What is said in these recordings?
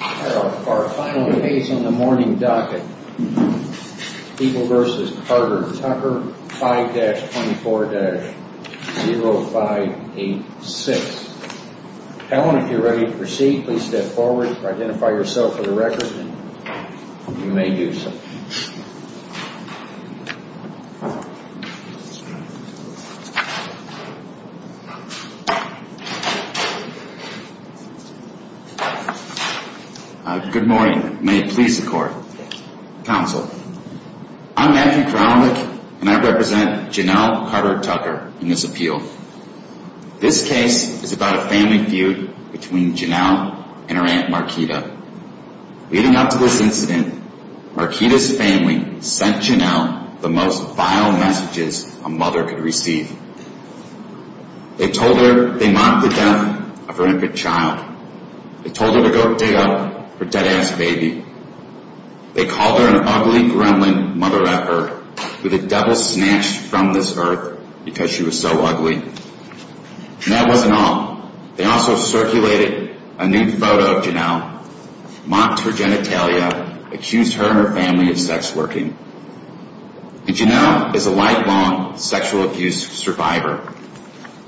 Our final case on the morning docket, People v. Carter Tucker 5-24-0586. Helen, if you're ready to proceed, please step forward, identify yourself for the record, and you may do so. Matthew Kralovic Good morning. May it please the court, counsel. I'm Matthew Kralovic, and I represent Janelle Carter Tucker in this appeal. This case is about a family feud between Janelle and her aunt Markita. Leading up to this incident, Markita's family sent Janelle the most vile messages a mother could receive. They told her they mocked the death of her infant child. They told her to go dig up her dead-ass baby. They called her an ugly, gremlin mother-at-earth with a devil snatched from this earth because she was so ugly. And that wasn't all. They also circulated a nude photo of Janelle, mocked her genitalia, accused her and her family of sex working. Janelle is a lifelong sexual abuse survivor.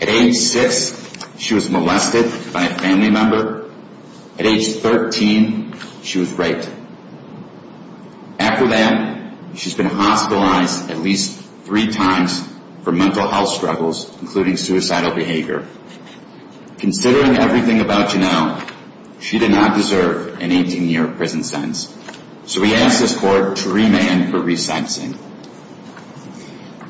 At age 6, she was molested by a family member. At age 13, she was raped. After that, she's been hospitalized at least three times for mental health struggles, including suicidal behavior. Considering everything about Janelle, she did not deserve an 18-year prison sentence. So we ask this court to remand her re-sexing.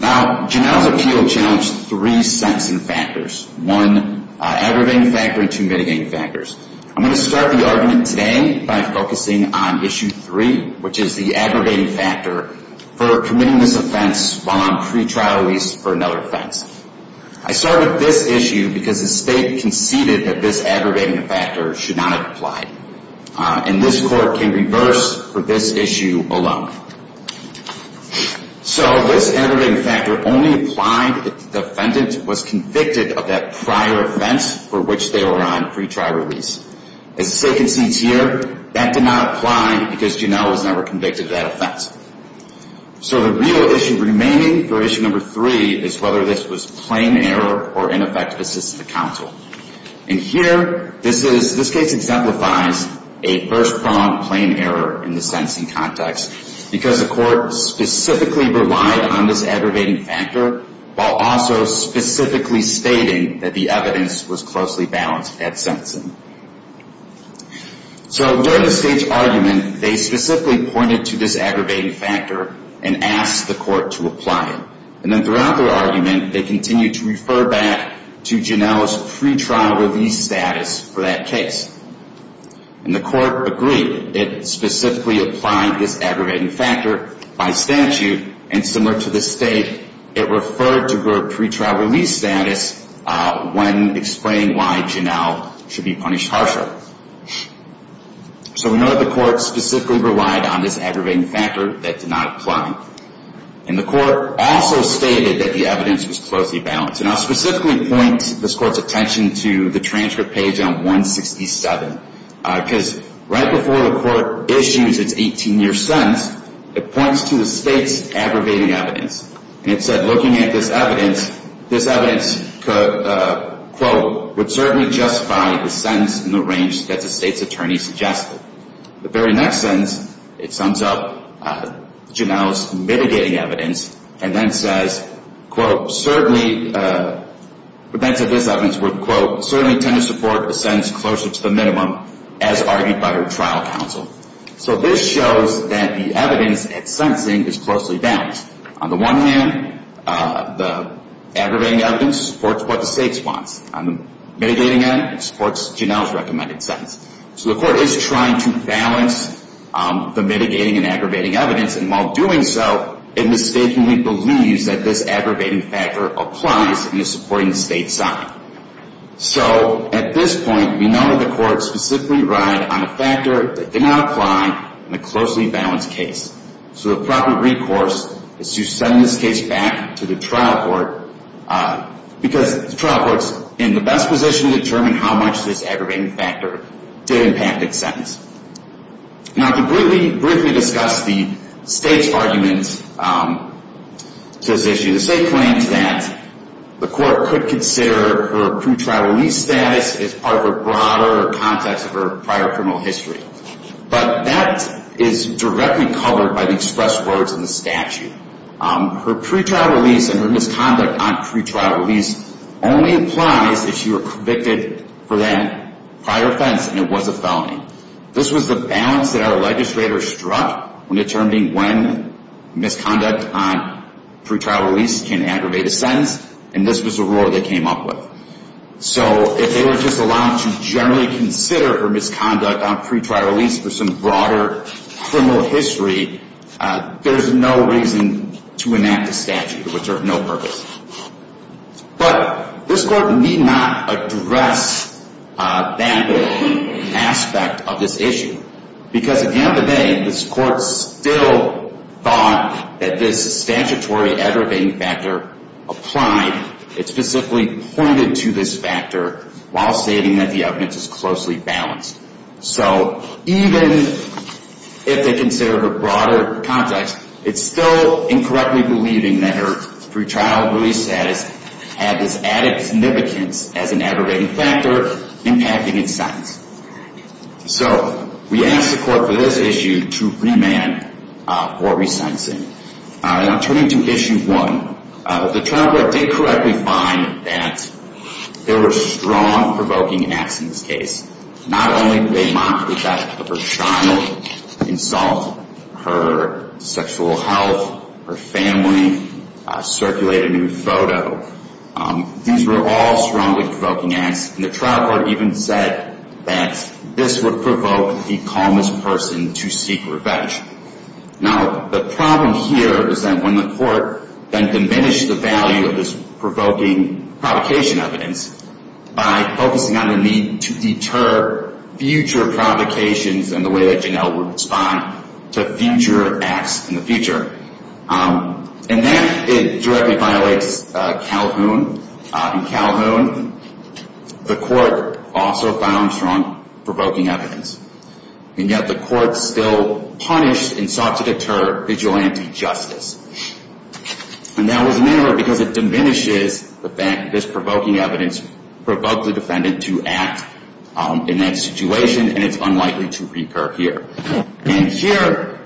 Now, Janelle's appeal challenged three sexing factors, one aggravating factor and two mitigating factors. I'm going to start the argument today by focusing on issue three, which is the aggravating factor for committing this offense while on pretrial release for another offense. I start with this issue because the state conceded that this aggravating factor should not have applied. And this court can reverse for this issue alone. So this aggravating factor only applied if the defendant was convicted of that prior offense for which they were on pretrial release. As the state concedes here, that did not apply because Janelle was never convicted of that offense. So the real issue remaining for issue number three is whether this was plain error or ineffective assistance to counsel. And here, this case exemplifies a first-pronged plain error in the sentencing context because the court specifically relied on this aggravating factor while also specifically stating that the evidence was closely balanced at sentencing. So during the state's argument, they specifically pointed to this aggravating factor and asked the court to apply it. And then throughout their argument, they continued to refer back to Janelle's pretrial release status for that case. And the court agreed. It specifically applied this aggravating factor by statute. And similar to the state, it referred to her pretrial release status when explaining why Janelle should be punished harsher. So we know that the court specifically relied on this aggravating factor. That did not apply. And the court also stated that the evidence was closely balanced. And I'll specifically point this court's attention to the transcript page on 167. Because right before the court issues its 18-year sentence, it points to the state's aggravating evidence. And it said, looking at this evidence, this evidence, quote, would certainly justify the sentence in the range that the state's attorney suggested. The very next sentence, it sums up Janelle's mitigating evidence and then says, quote, certainly, that this evidence would, quote, certainly tend to support the sentence closer to the minimum as argued by her trial counsel. So this shows that the evidence at sentencing is closely balanced. On the one hand, the aggravating evidence supports what the state wants. On the mitigating end, it supports Janelle's recommended sentence. So the court is trying to balance the mitigating and aggravating evidence. And while doing so, it mistakenly believes that this aggravating factor applies and is supporting the state's side. So at this point, we know that the court specifically relied on a factor that did not apply in the closely balanced case. So the proper recourse is to send this case back to the trial court because the trial court is in the best position to determine how much this aggravating factor did impact its sentence. Now, to briefly discuss the state's argument to this issue, the state claims that the court could consider her pretrial release status as part of a broader context of her prior criminal history. But that is directly covered by the express words in the statute. Her pretrial release and her misconduct on pretrial release only applies if she were convicted for that prior offense and it was a felony. This was the balance that our legislators struck when determining when misconduct on pretrial release can aggravate a sentence, and this was the rule they came up with. So if they were just allowed to generally consider her misconduct on pretrial release for some broader criminal history, there's no reason to enact a statute, which would serve no purpose. But this court need not address that aspect of this issue because at the end of the day, this court still thought that this statutory aggravating factor applied. It specifically pointed to this factor while stating that the evidence is closely balanced. So even if they considered her broader context, it's still incorrectly believing that her pretrial release status had this added significance as an aggravating factor impacting its sentence. So we ask the court for this issue to remand or re-sentence it. Now turning to issue one, the trial court did correctly find that there were strong provoking acts in this case. Not only did they mock the death of her child, insult her sexual health, her family, circulate a nude photo. These were all strongly provoking acts, and the trial court even said that this would provoke the calmest person to seek revenge. Now the problem here is that when the court then diminished the value of this provoking provocation evidence by focusing on the need to deter future provocations and the way that Janelle would respond to future acts in the future. And that directly violates Calhoun. In Calhoun, the court also found strong provoking evidence, and yet the court still punished and sought to deter vigilante justice. And that was narrowed because it diminishes the fact that this provoking evidence provoked the defendant to act in that situation, and it's unlikely to recur here. And here,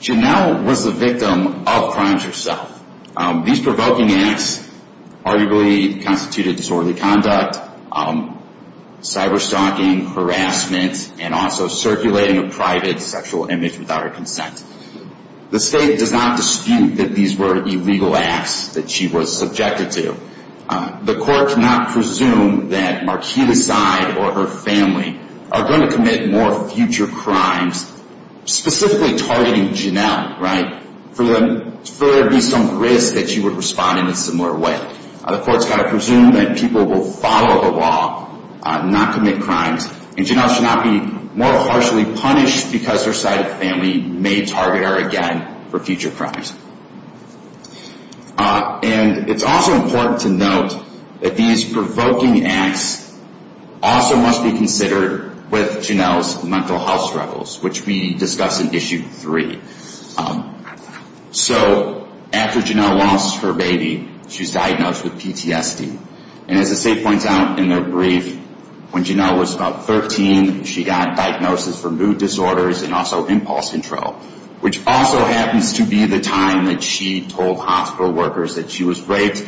Janelle was the victim of crimes herself. These provoking acts arguably constituted disorderly conduct, cyber-stalking, harassment, and also circulating a private sexual image without her consent. The state does not dispute that these were illegal acts that she was subjected to. The court cannot presume that Marquis' side or her family are going to commit more future crimes, specifically targeting Janelle, right, for there to be some risk that she would respond in a similar way. The court's got to presume that people will follow the law, not commit crimes, and Janelle should not be more harshly punished because her side of the family may target her again for future crimes. And it's also important to note that these provoking acts also must be considered with Janelle's mental health struggles, which we discuss in Issue 3. So after Janelle lost her baby, she was diagnosed with PTSD. And as the state points out in their brief, when Janelle was about 13, she got diagnosed with mood disorders and also impulse control, which also happens to be the time that she told hospital workers that she was raped,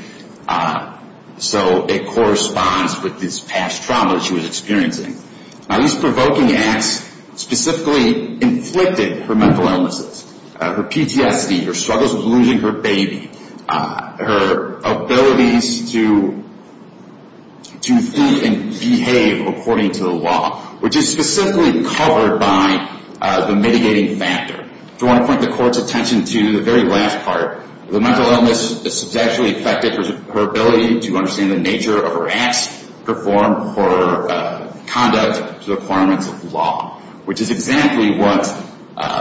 so it corresponds with this past trauma that she was experiencing. Now, these provoking acts specifically inflicted her mental illnesses, her PTSD, her struggles with losing her baby, her abilities to think and behave according to the law, which is specifically covered by the mitigating factor. I do want to point the court's attention to the very last part. The mental illness substantially affected her ability to understand the nature of her acts, her form, her conduct to the requirements of law, which is exactly what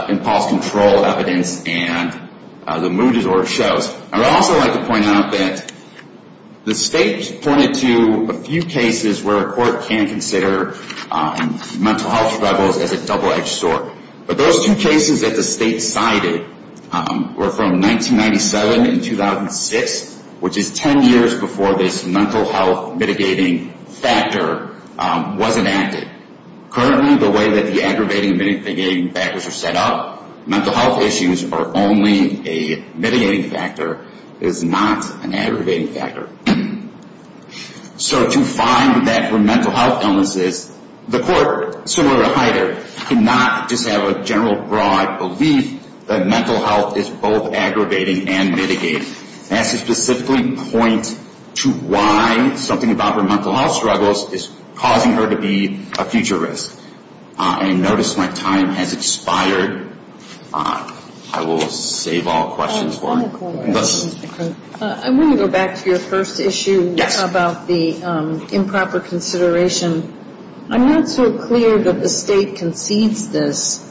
impulse control evidence and the mood disorder shows. I would also like to point out that the state pointed to a few cases where a court can consider mental health struggles as a double-edged sword. But those two cases that the state cited were from 1997 and 2006, which is 10 years before this mental health mitigating factor was enacted. Currently, the way that the aggravating and mitigating factors are set up, mental health issues are only a mitigating factor. It is not an aggravating factor. So to find that her mental health illnesses, the court, similar to Hyder, cannot just have a general broad belief that mental health is both aggravating and mitigating. That's to specifically point to why something about her mental health struggles is causing her to be a future risk. I notice my time has expired. I will save all questions for later. I want to go back to your first issue about the improper consideration. I'm not so clear that the state concedes this.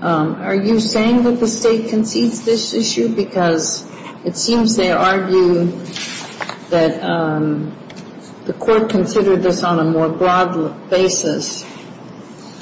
Are you saying that the state concedes this issue? Because it seems they argue that the court considered this on a more broad basis.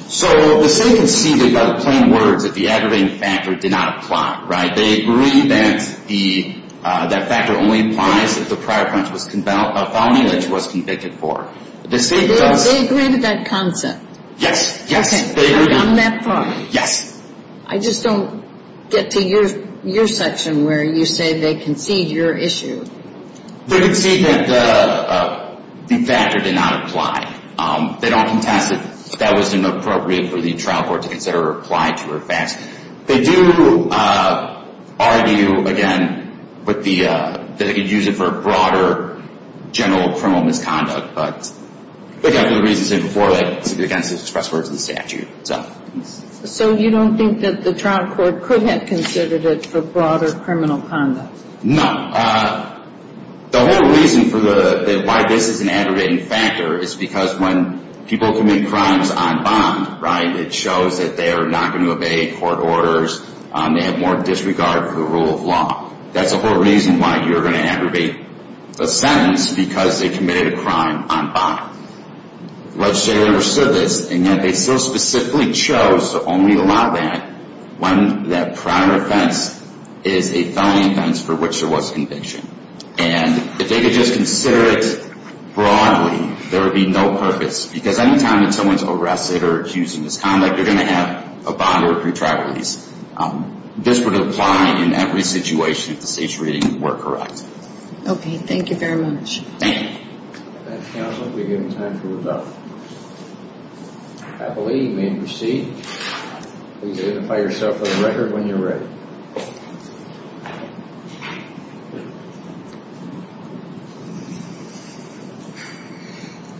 So the state conceded by the plain words that the aggravating factor did not apply, right? They agree that that factor only applies if the prior offense was a felony that she was convicted for. They agree to that concept? Yes, yes. Okay, they've gone that far? Yes. I just don't get to your section where you say they concede your issue. They concede that the factor did not apply. They don't contest it. That wasn't appropriate for the trial court to consider or apply to her facts. They do argue, again, that they could use it for a broader general criminal misconduct, but they've got good reasons to say before, against the express words of the statute. So you don't think that the trial court could have considered it for broader criminal conduct? No. The whole reason for why this is an aggravating factor is because when people commit crimes on bond, right, it shows that they are not going to obey court orders. They have more disregard for the rule of law. That's the whole reason why you're going to aggravate a sentence because they committed a crime on bond. The legislature understood this, and yet they still specifically chose to only allow that when that prior offense is a felony offense for which there was conviction. And if they could just consider it broadly, there would be no purpose. Because any time that someone's arrested or accused of misconduct, they're going to have a bond or a pretrial release. This would apply in every situation if the state's reading were correct. Okay, thank you very much. Thank you. Thank you, counsel. We've given time for rebuttal. I believe you may proceed. Please identify yourself for the record when you're ready.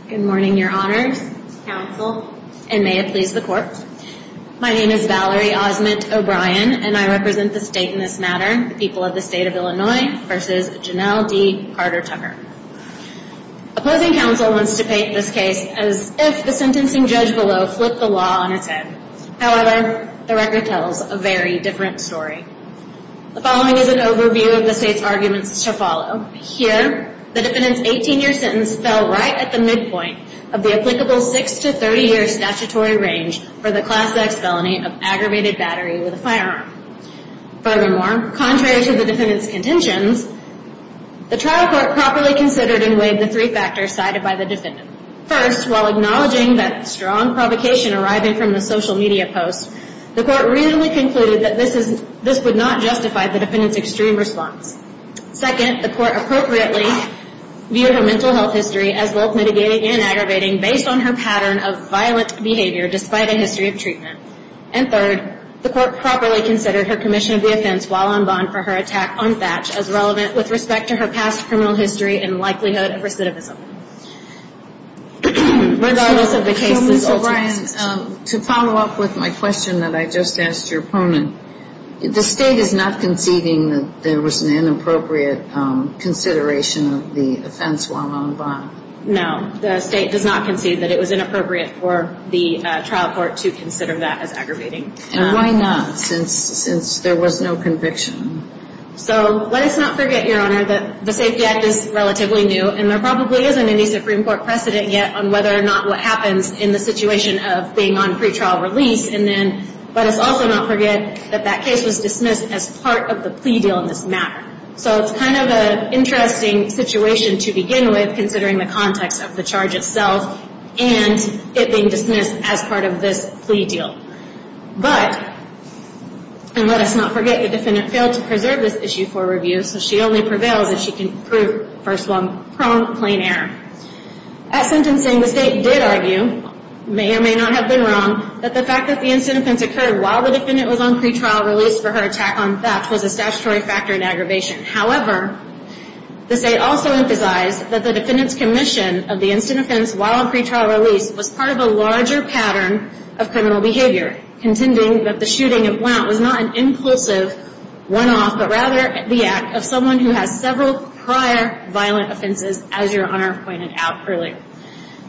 Good morning, your honors, counsel, and may it please the court. My name is Valerie Osment O'Brien, and I represent the state in this matter, the people of the state of Illinois, versus Janelle D. Carter-Tucker. Opposing counsel wants to paint this case as if the sentencing judge below flipped the law on its head. However, the record tells a very different story. The following is an overview of the state's arguments to follow. Here, the defendant's 18-year sentence fell right at the midpoint of the applicable 6- to 30-year statutory range for the Class X felony of aggravated battery with a firearm. Furthermore, contrary to the defendant's contentions, the trial court properly considered and weighed the three factors cited by the defendant. First, while acknowledging that strong provocation arriving from the social media posts, the court reasonably concluded that this would not justify the defendant's extreme response. Second, the court appropriately viewed her mental health history as both mitigating and aggravating based on her pattern of violent behavior despite a history of treatment. And third, the court properly considered her commission of the offense while on bond for her attack on Thatch as relevant with respect to her past criminal history and likelihood of recidivism. Regardless of the case's ultimate... So, Ms. O'Brien, to follow up with my question that I just asked your opponent, the state is not conceding that there was an inappropriate consideration of the offense while on bond? No, the state does not concede that it was inappropriate for the trial court to consider that as aggravating. And why not, since there was no conviction? So, let us not forget, Your Honor, that the SAFE Act is relatively new, and there probably isn't any Supreme Court precedent yet on whether or not what happens in the situation of being on pretrial release. And then, let us also not forget that that case was dismissed as part of the plea deal in this matter. So, it's kind of an interesting situation to begin with, considering the context of the charge itself and it being dismissed as part of this plea deal. But, and let us not forget, the defendant failed to preserve this issue for review, so she only prevails if she can prove, first of all, pronged, plain error. At sentencing, the state did argue, may or may not have been wrong, that the fact that the instant offense occurred while the defendant was on pretrial release for her attack on theft was a statutory factor in aggravation. However, the state also emphasized that the defendant's commission of the instant offense while on pretrial release was part of a larger pattern of criminal behavior, contending that the shooting at Blount was not an impulsive one-off, but rather the act of someone who has several prior violent offenses, as Your Honor pointed out earlier.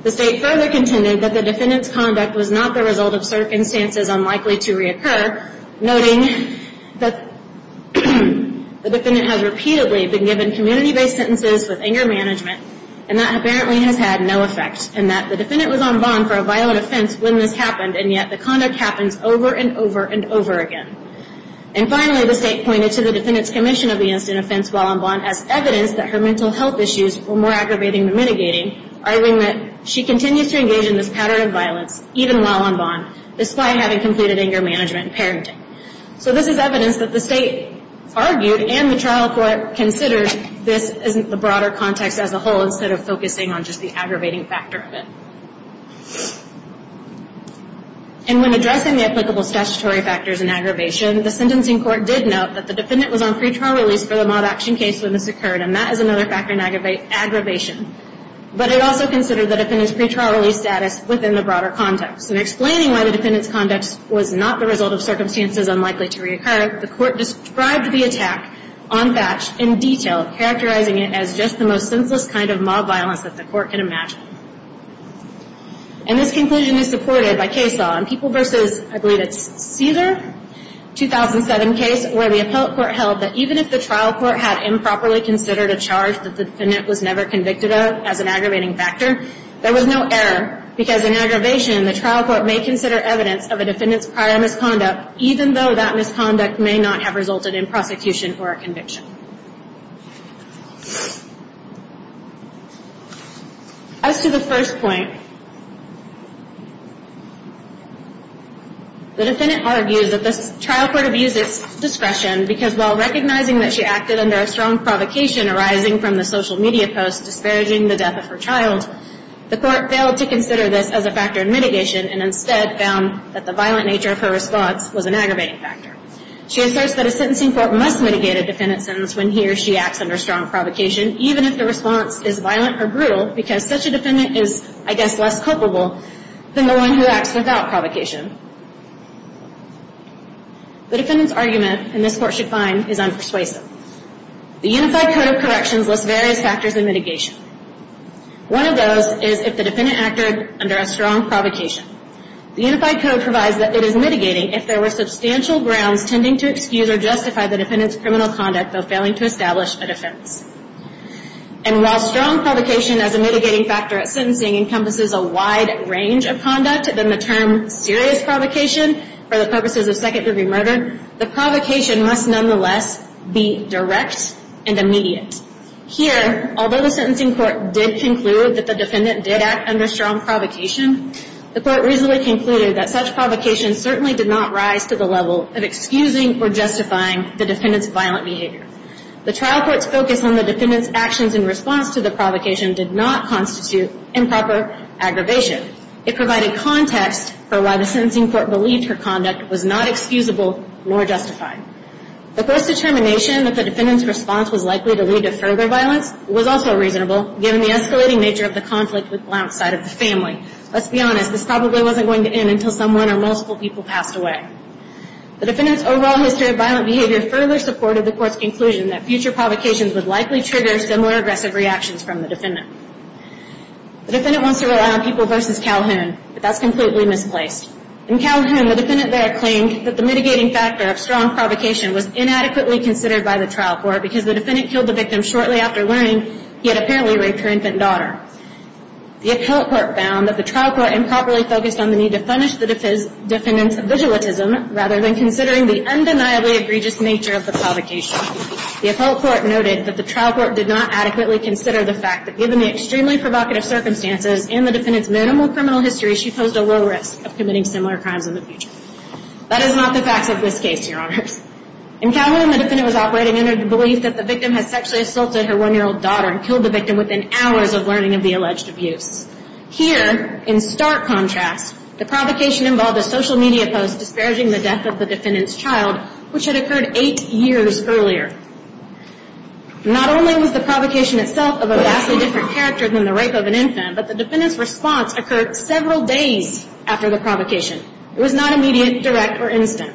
The state further contended that the defendant's conduct was not the result of circumstances unlikely to reoccur, noting that the defendant has repeatedly been given community-based sentences with anger management, and that apparently has had no effect, and that the defendant was on bond for a violent offense when this happened, and yet the conduct happens over and over and over again. And finally, the state pointed to the defendant's commission of the instant offense while on bond as evidence that her mental health issues were more aggravating than mitigating, arguing that she continues to engage in this pattern of violence even while on bond, despite having completed anger management and parenting. So this is evidence that the state argued and the trial court considered this as the broader context as a whole instead of focusing on just the aggravating factor of it. And when addressing the applicable statutory factors in aggravation, the sentencing court did note that the defendant was on pretrial release for the maud action case when this occurred, and that is another factor in aggravation. But it also considered the defendant's pretrial release status within the broader context, and explaining why the defendant's conduct was not the result of circumstances unlikely to reoccur, the court described the attack on Thatch in detail, characterizing it as just the most senseless kind of mob violence that the court can imagine. And this conclusion is supported by case law in People v. I believe it's Caesar, 2007 case, where the appellate court held that even if the trial court had improperly considered a charge that the defendant was never convicted of as an aggravating factor, there was no error, because in aggravation, the trial court may consider evidence of a defendant's prior misconduct, even though that misconduct may not have resulted in prosecution or a conviction. As to the first point, the defendant argues that the trial court abused its discretion, because while recognizing that she acted under a strong provocation arising from the social media posts disparaging the death of her child, the court failed to consider this as a factor in mitigation, and instead found that the violent nature of her response was an aggravating factor. She asserts that a sentencing court must mitigate a defendant's sentence when he or she acts under strong provocation, even if the response is violent or brutal, because such a defendant is, I guess, less culpable than the one who acts without provocation. The defendant's argument, and this court should find, is unpersuasive. The Unified Code of Corrections lists various factors in mitigation. One of those is if the defendant acted under a strong provocation. The Unified Code provides that it is mitigating if there were substantial grounds tending to excuse or justify the defendant's criminal conduct, though failing to establish a defense. And while strong provocation as a mitigating factor at sentencing encompasses a wide range of conduct than the term serious provocation for the purposes of second-degree murder, the provocation must nonetheless be direct and immediate. Here, although the sentencing court did conclude that the defendant did act under strong provocation, the court reasonably concluded that such provocation certainly did not rise to the level of excusing or justifying the defendant's violent behavior. The trial court's focus on the defendant's actions in response to the provocation did not constitute improper aggravation. It provided context for why the sentencing court believed her conduct was not excusable nor justified. The court's determination that the defendant's response was likely to lead to further violence was also reasonable given the escalating nature of the conflict with the Blount side of the family. Let's be honest, this probably wasn't going to end until someone or multiple people passed away. The defendant's overall history of violent behavior further supported the court's conclusion that future provocations would likely trigger similar aggressive reactions from the defendant. The defendant wants to rely on people versus Calhoun, but that's completely misplaced. In Calhoun, the defendant there claimed that the mitigating factor of strong provocation was inadequately considered by the trial court because the defendant killed the victim shortly after learning he had apparently raped her infant daughter. The appellate court found that the trial court improperly focused on the need to punish the defendant's vigilantism rather than considering the undeniably egregious nature of the provocation. The appellate court noted that the trial court did not adequately consider the fact that, given the extremely provocative circumstances and the defendant's minimal criminal history, she posed a low risk of committing similar crimes in the future. That is not the facts of this case, Your Honors. In Calhoun, the defendant was operating under the belief that the victim had sexually assaulted her one-year-old daughter and killed the victim within hours of learning of the alleged abuse. Here, in stark contrast, the provocation involved a social media post disparaging the death of the defendant's child, which had occurred eight years earlier. Not only was the provocation itself of a vastly different character than the rape of an infant, but the defendant's response occurred several days after the provocation. It was not immediate, direct, or instant.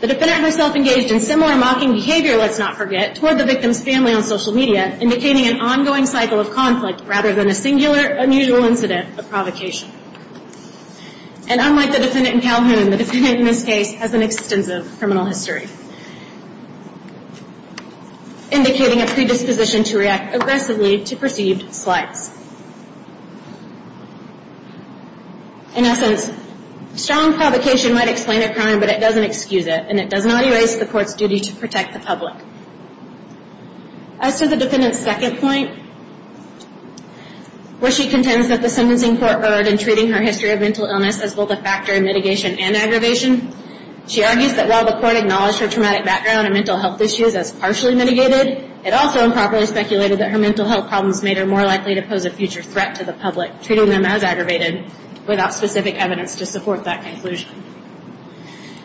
The defendant herself engaged in similar mocking behavior, let's not forget, toward the victim's family on social media, indicating an ongoing cycle of conflict rather than a singular, unusual incident of provocation. And unlike the defendant in Calhoun, the defendant in this case has an extensive criminal history, indicating a predisposition to react aggressively to perceived slights. In essence, strong provocation might explain a crime, but it doesn't excuse it, and it does not erase the court's duty to protect the public. As to the defendant's second point, where she contends that the sentencing court erred in treating her history of mental illness as both a factor in mitigation and aggravation, she argues that while the court acknowledged her traumatic background and mental health issues as partially mitigated, it also improperly speculated that her mental health problems made her more likely to pose a future threat to the public, treating them as aggravated, without specific evidence to support that conclusion.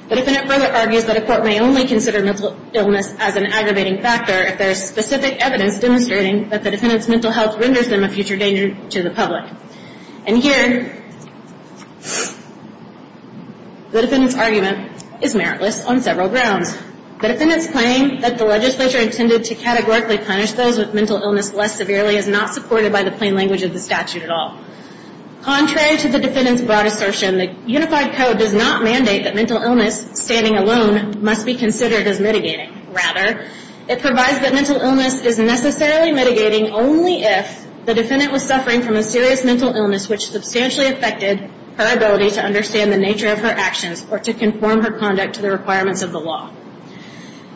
The defendant further argues that a court may only consider mental illness as an aggravating factor if there is specific evidence demonstrating that the defendant's mental health renders them a future danger to the public. And here, the defendant's argument is meritless on several grounds. The defendant's claim that the legislature intended to categorically punish those with mental illness less severely is not supported by the plain language of the statute at all. Contrary to the defendant's broad assertion, the Unified Code does not mandate that mental illness, standing alone, must be considered as mitigating. Rather, it provides that mental illness is necessarily mitigating only if the defendant was suffering from a serious mental illness which substantially affected her ability to understand the nature of her actions or to conform her conduct to the requirements of the law.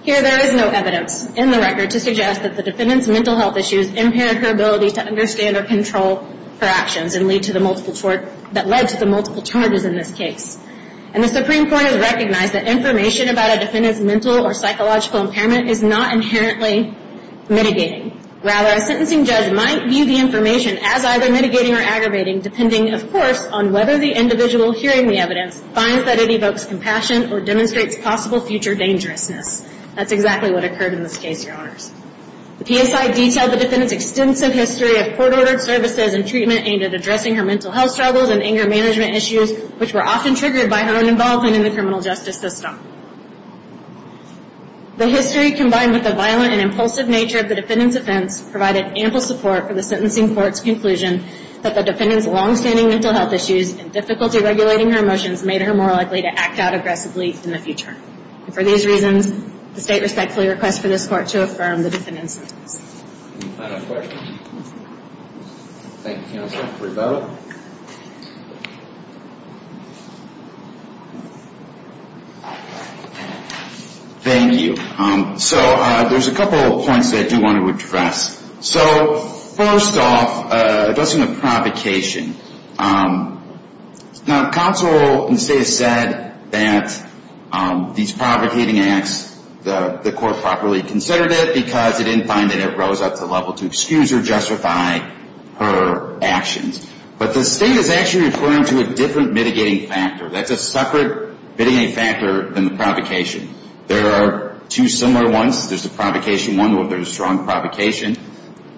Here, there is no evidence in the record to suggest that the defendant's mental health issues impaired her ability to understand or control her actions and lead to the multiple charges in this case. And the Supreme Court has recognized that information about a defendant's mental or psychological impairment is not inherently mitigating. Rather, a sentencing judge might view the information as either mitigating or aggravating depending, of course, on whether the individual hearing the evidence finds that it evokes compassion or demonstrates possible future dangerousness. That's exactly what occurred in this case, Your Honors. The PSI detailed the defendant's extensive history of court-ordered services and treatment aimed at addressing her mental health struggles and anger management issues which were often triggered by her own involvement in the criminal justice system. The history combined with the violent and impulsive nature of the defendant's offense provided ample support for the sentencing court's conclusion that the defendant's longstanding mental health issues and difficulty regulating her emotions made her more likely to act out aggressively in the future. And for these reasons, the State respectfully requests for this Court to affirm the defendant's sentence. Any final questions? Thank you, Counsel. Rebecca? Thank you. So there's a couple of points that I do want to address. So first off, addressing the provocation. Now, counsel in the State has said that these provocating acts, the Court properly considered it because it didn't find that it rose up to the level to excuse or justify her actions. But the State is actually referring to a different mitigating factor. That's a separate mitigating factor than the provocation. There are two similar ones. There's the provocation one where there's strong provocation.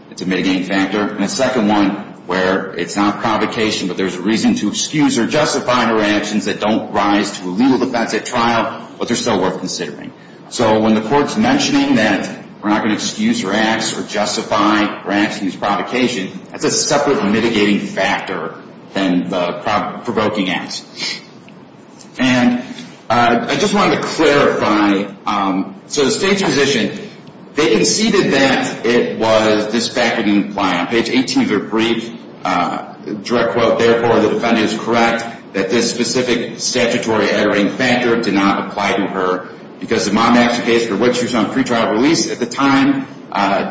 It's a mitigating factor. And a second one where it's not provocation, but there's a reason to excuse or justify her actions that don't rise to a legal defense at trial, but they're still worth considering. So when the Court's mentioning that we're not going to excuse her acts or justify her actions or provocation, that's a separate mitigating factor than the provoking acts. And I just wanted to clarify. So the State's position, they conceded that it was this fact that didn't apply. On page 18 of their brief, direct quote, therefore, the defendant is correct that this specific statutory aggravating factor did not apply to her because the mom action case for which she was on pretrial release at the time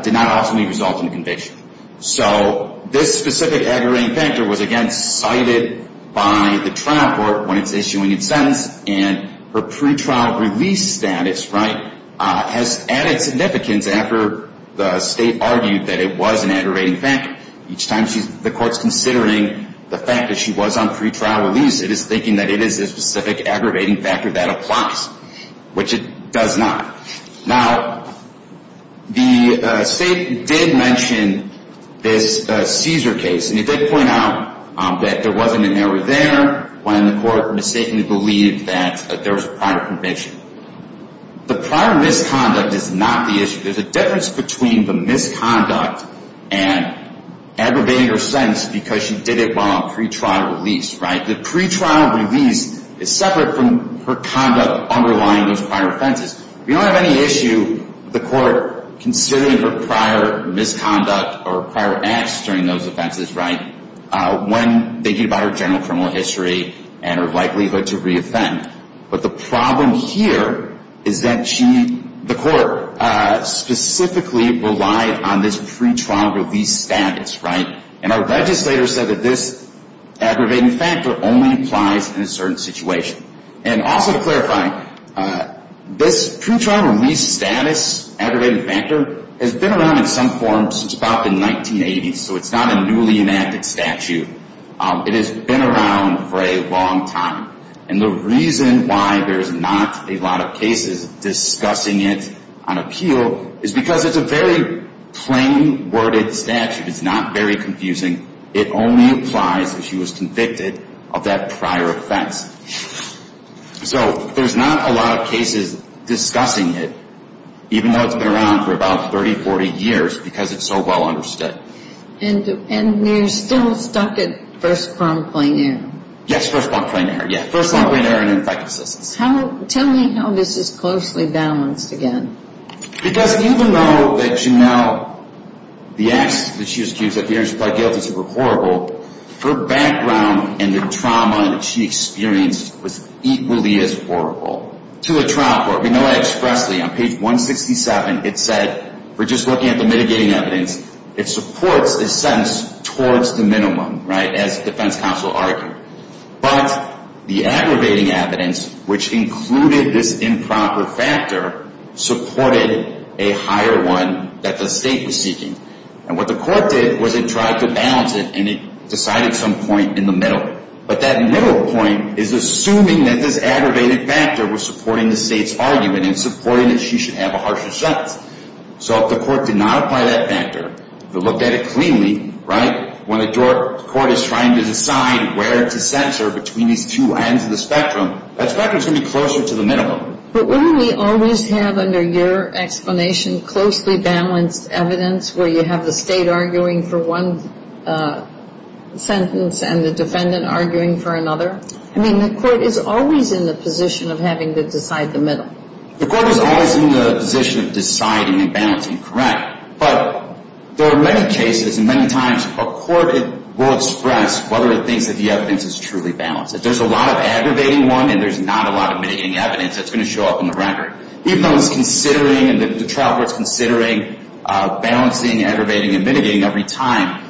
did not ultimately result in a conviction. So this specific aggravating factor was, again, cited by the trial court when it's issuing its sentence. And her pretrial release status, right, has added significance after the State argued that it was an aggravating factor. Each time the Court's considering the fact that she was on pretrial release, it is thinking that it is a specific aggravating factor that applies, which it does not. Now, the State did mention this Caesar case, and it did point out that there wasn't an error there when the Court mistakenly believed that there was a prior conviction. The prior misconduct is not the issue. There's a difference between the misconduct and aggravating her sentence because she did it while on pretrial release, right? The pretrial release is separate from her conduct underlying those prior offenses. We don't have any issue with the Court considering her prior misconduct or prior acts during those offenses, right, when thinking about her general criminal history and her likelihood to reoffend. But the problem here is that she, the Court, specifically relied on this pretrial release status, right? And our legislator said that this aggravating factor only applies in a certain situation. And also to clarify, this pretrial release status aggravating factor has been around in some forms since about the 1980s, so it's not a newly enacted statute. It has been around for a long time. And the reason why there's not a lot of cases discussing it on appeal is because it's a very plain-worded statute. It's not very confusing. It only applies if she was convicted of that prior offense. So there's not a lot of cases discussing it, even though it's been around for about 30, 40 years, because it's so well understood. And you're still stuck at first-prime plain error? Yes, first-prime plain error, yeah, first-prime plain error and infectiousness. Tell me how this is closely balanced again. Because even though that Janelle, the actions that she was accused of, the actions she pled guilty to were horrible, her background and the trauma that she experienced was equally as horrible. To the trial court, we know that expressly. On page 167, it said, we're just looking at the mitigating evidence. It supports the sentence towards the minimum, right, as the defense counsel argued. But the aggravating evidence, which included this improper factor, supported a higher one that the state was seeking. And what the court did was it tried to balance it, and it decided some point in the middle. But that middle point is assuming that this aggravated factor was supporting the state's argument and supporting that she should have a harsher sentence. So if the court did not apply that factor, if it looked at it cleanly, right, when the court is trying to decide where to censor between these two ends of the spectrum, that spectrum is going to be closer to the minimum. But wouldn't we always have, under your explanation, closely balanced evidence, where you have the state arguing for one sentence and the defendant arguing for another? I mean, the court is always in the position of having to decide the middle. The court is always in the position of deciding and balancing correct. But there are many cases and many times a court will express whether it thinks that the evidence is truly balanced. If there's a lot of aggravating one and there's not a lot of mitigating evidence, that's going to show up in the record. Even though it's considering and the trial court's considering balancing, aggravating, and mitigating every time,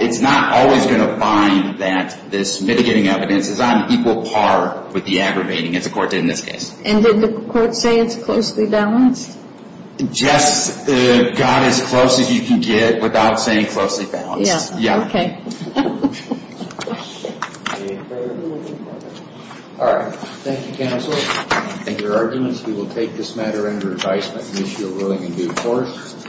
it's not always going to find that this mitigating evidence is on equal par with the aggravating, as the court did in this case. And did the court say it's closely balanced? Just got as close as you can get without saying closely balanced. Yeah. Okay. All right. Thank you, counsel. In your arguments, we will take this matter under advisement and issue a ruling in due course.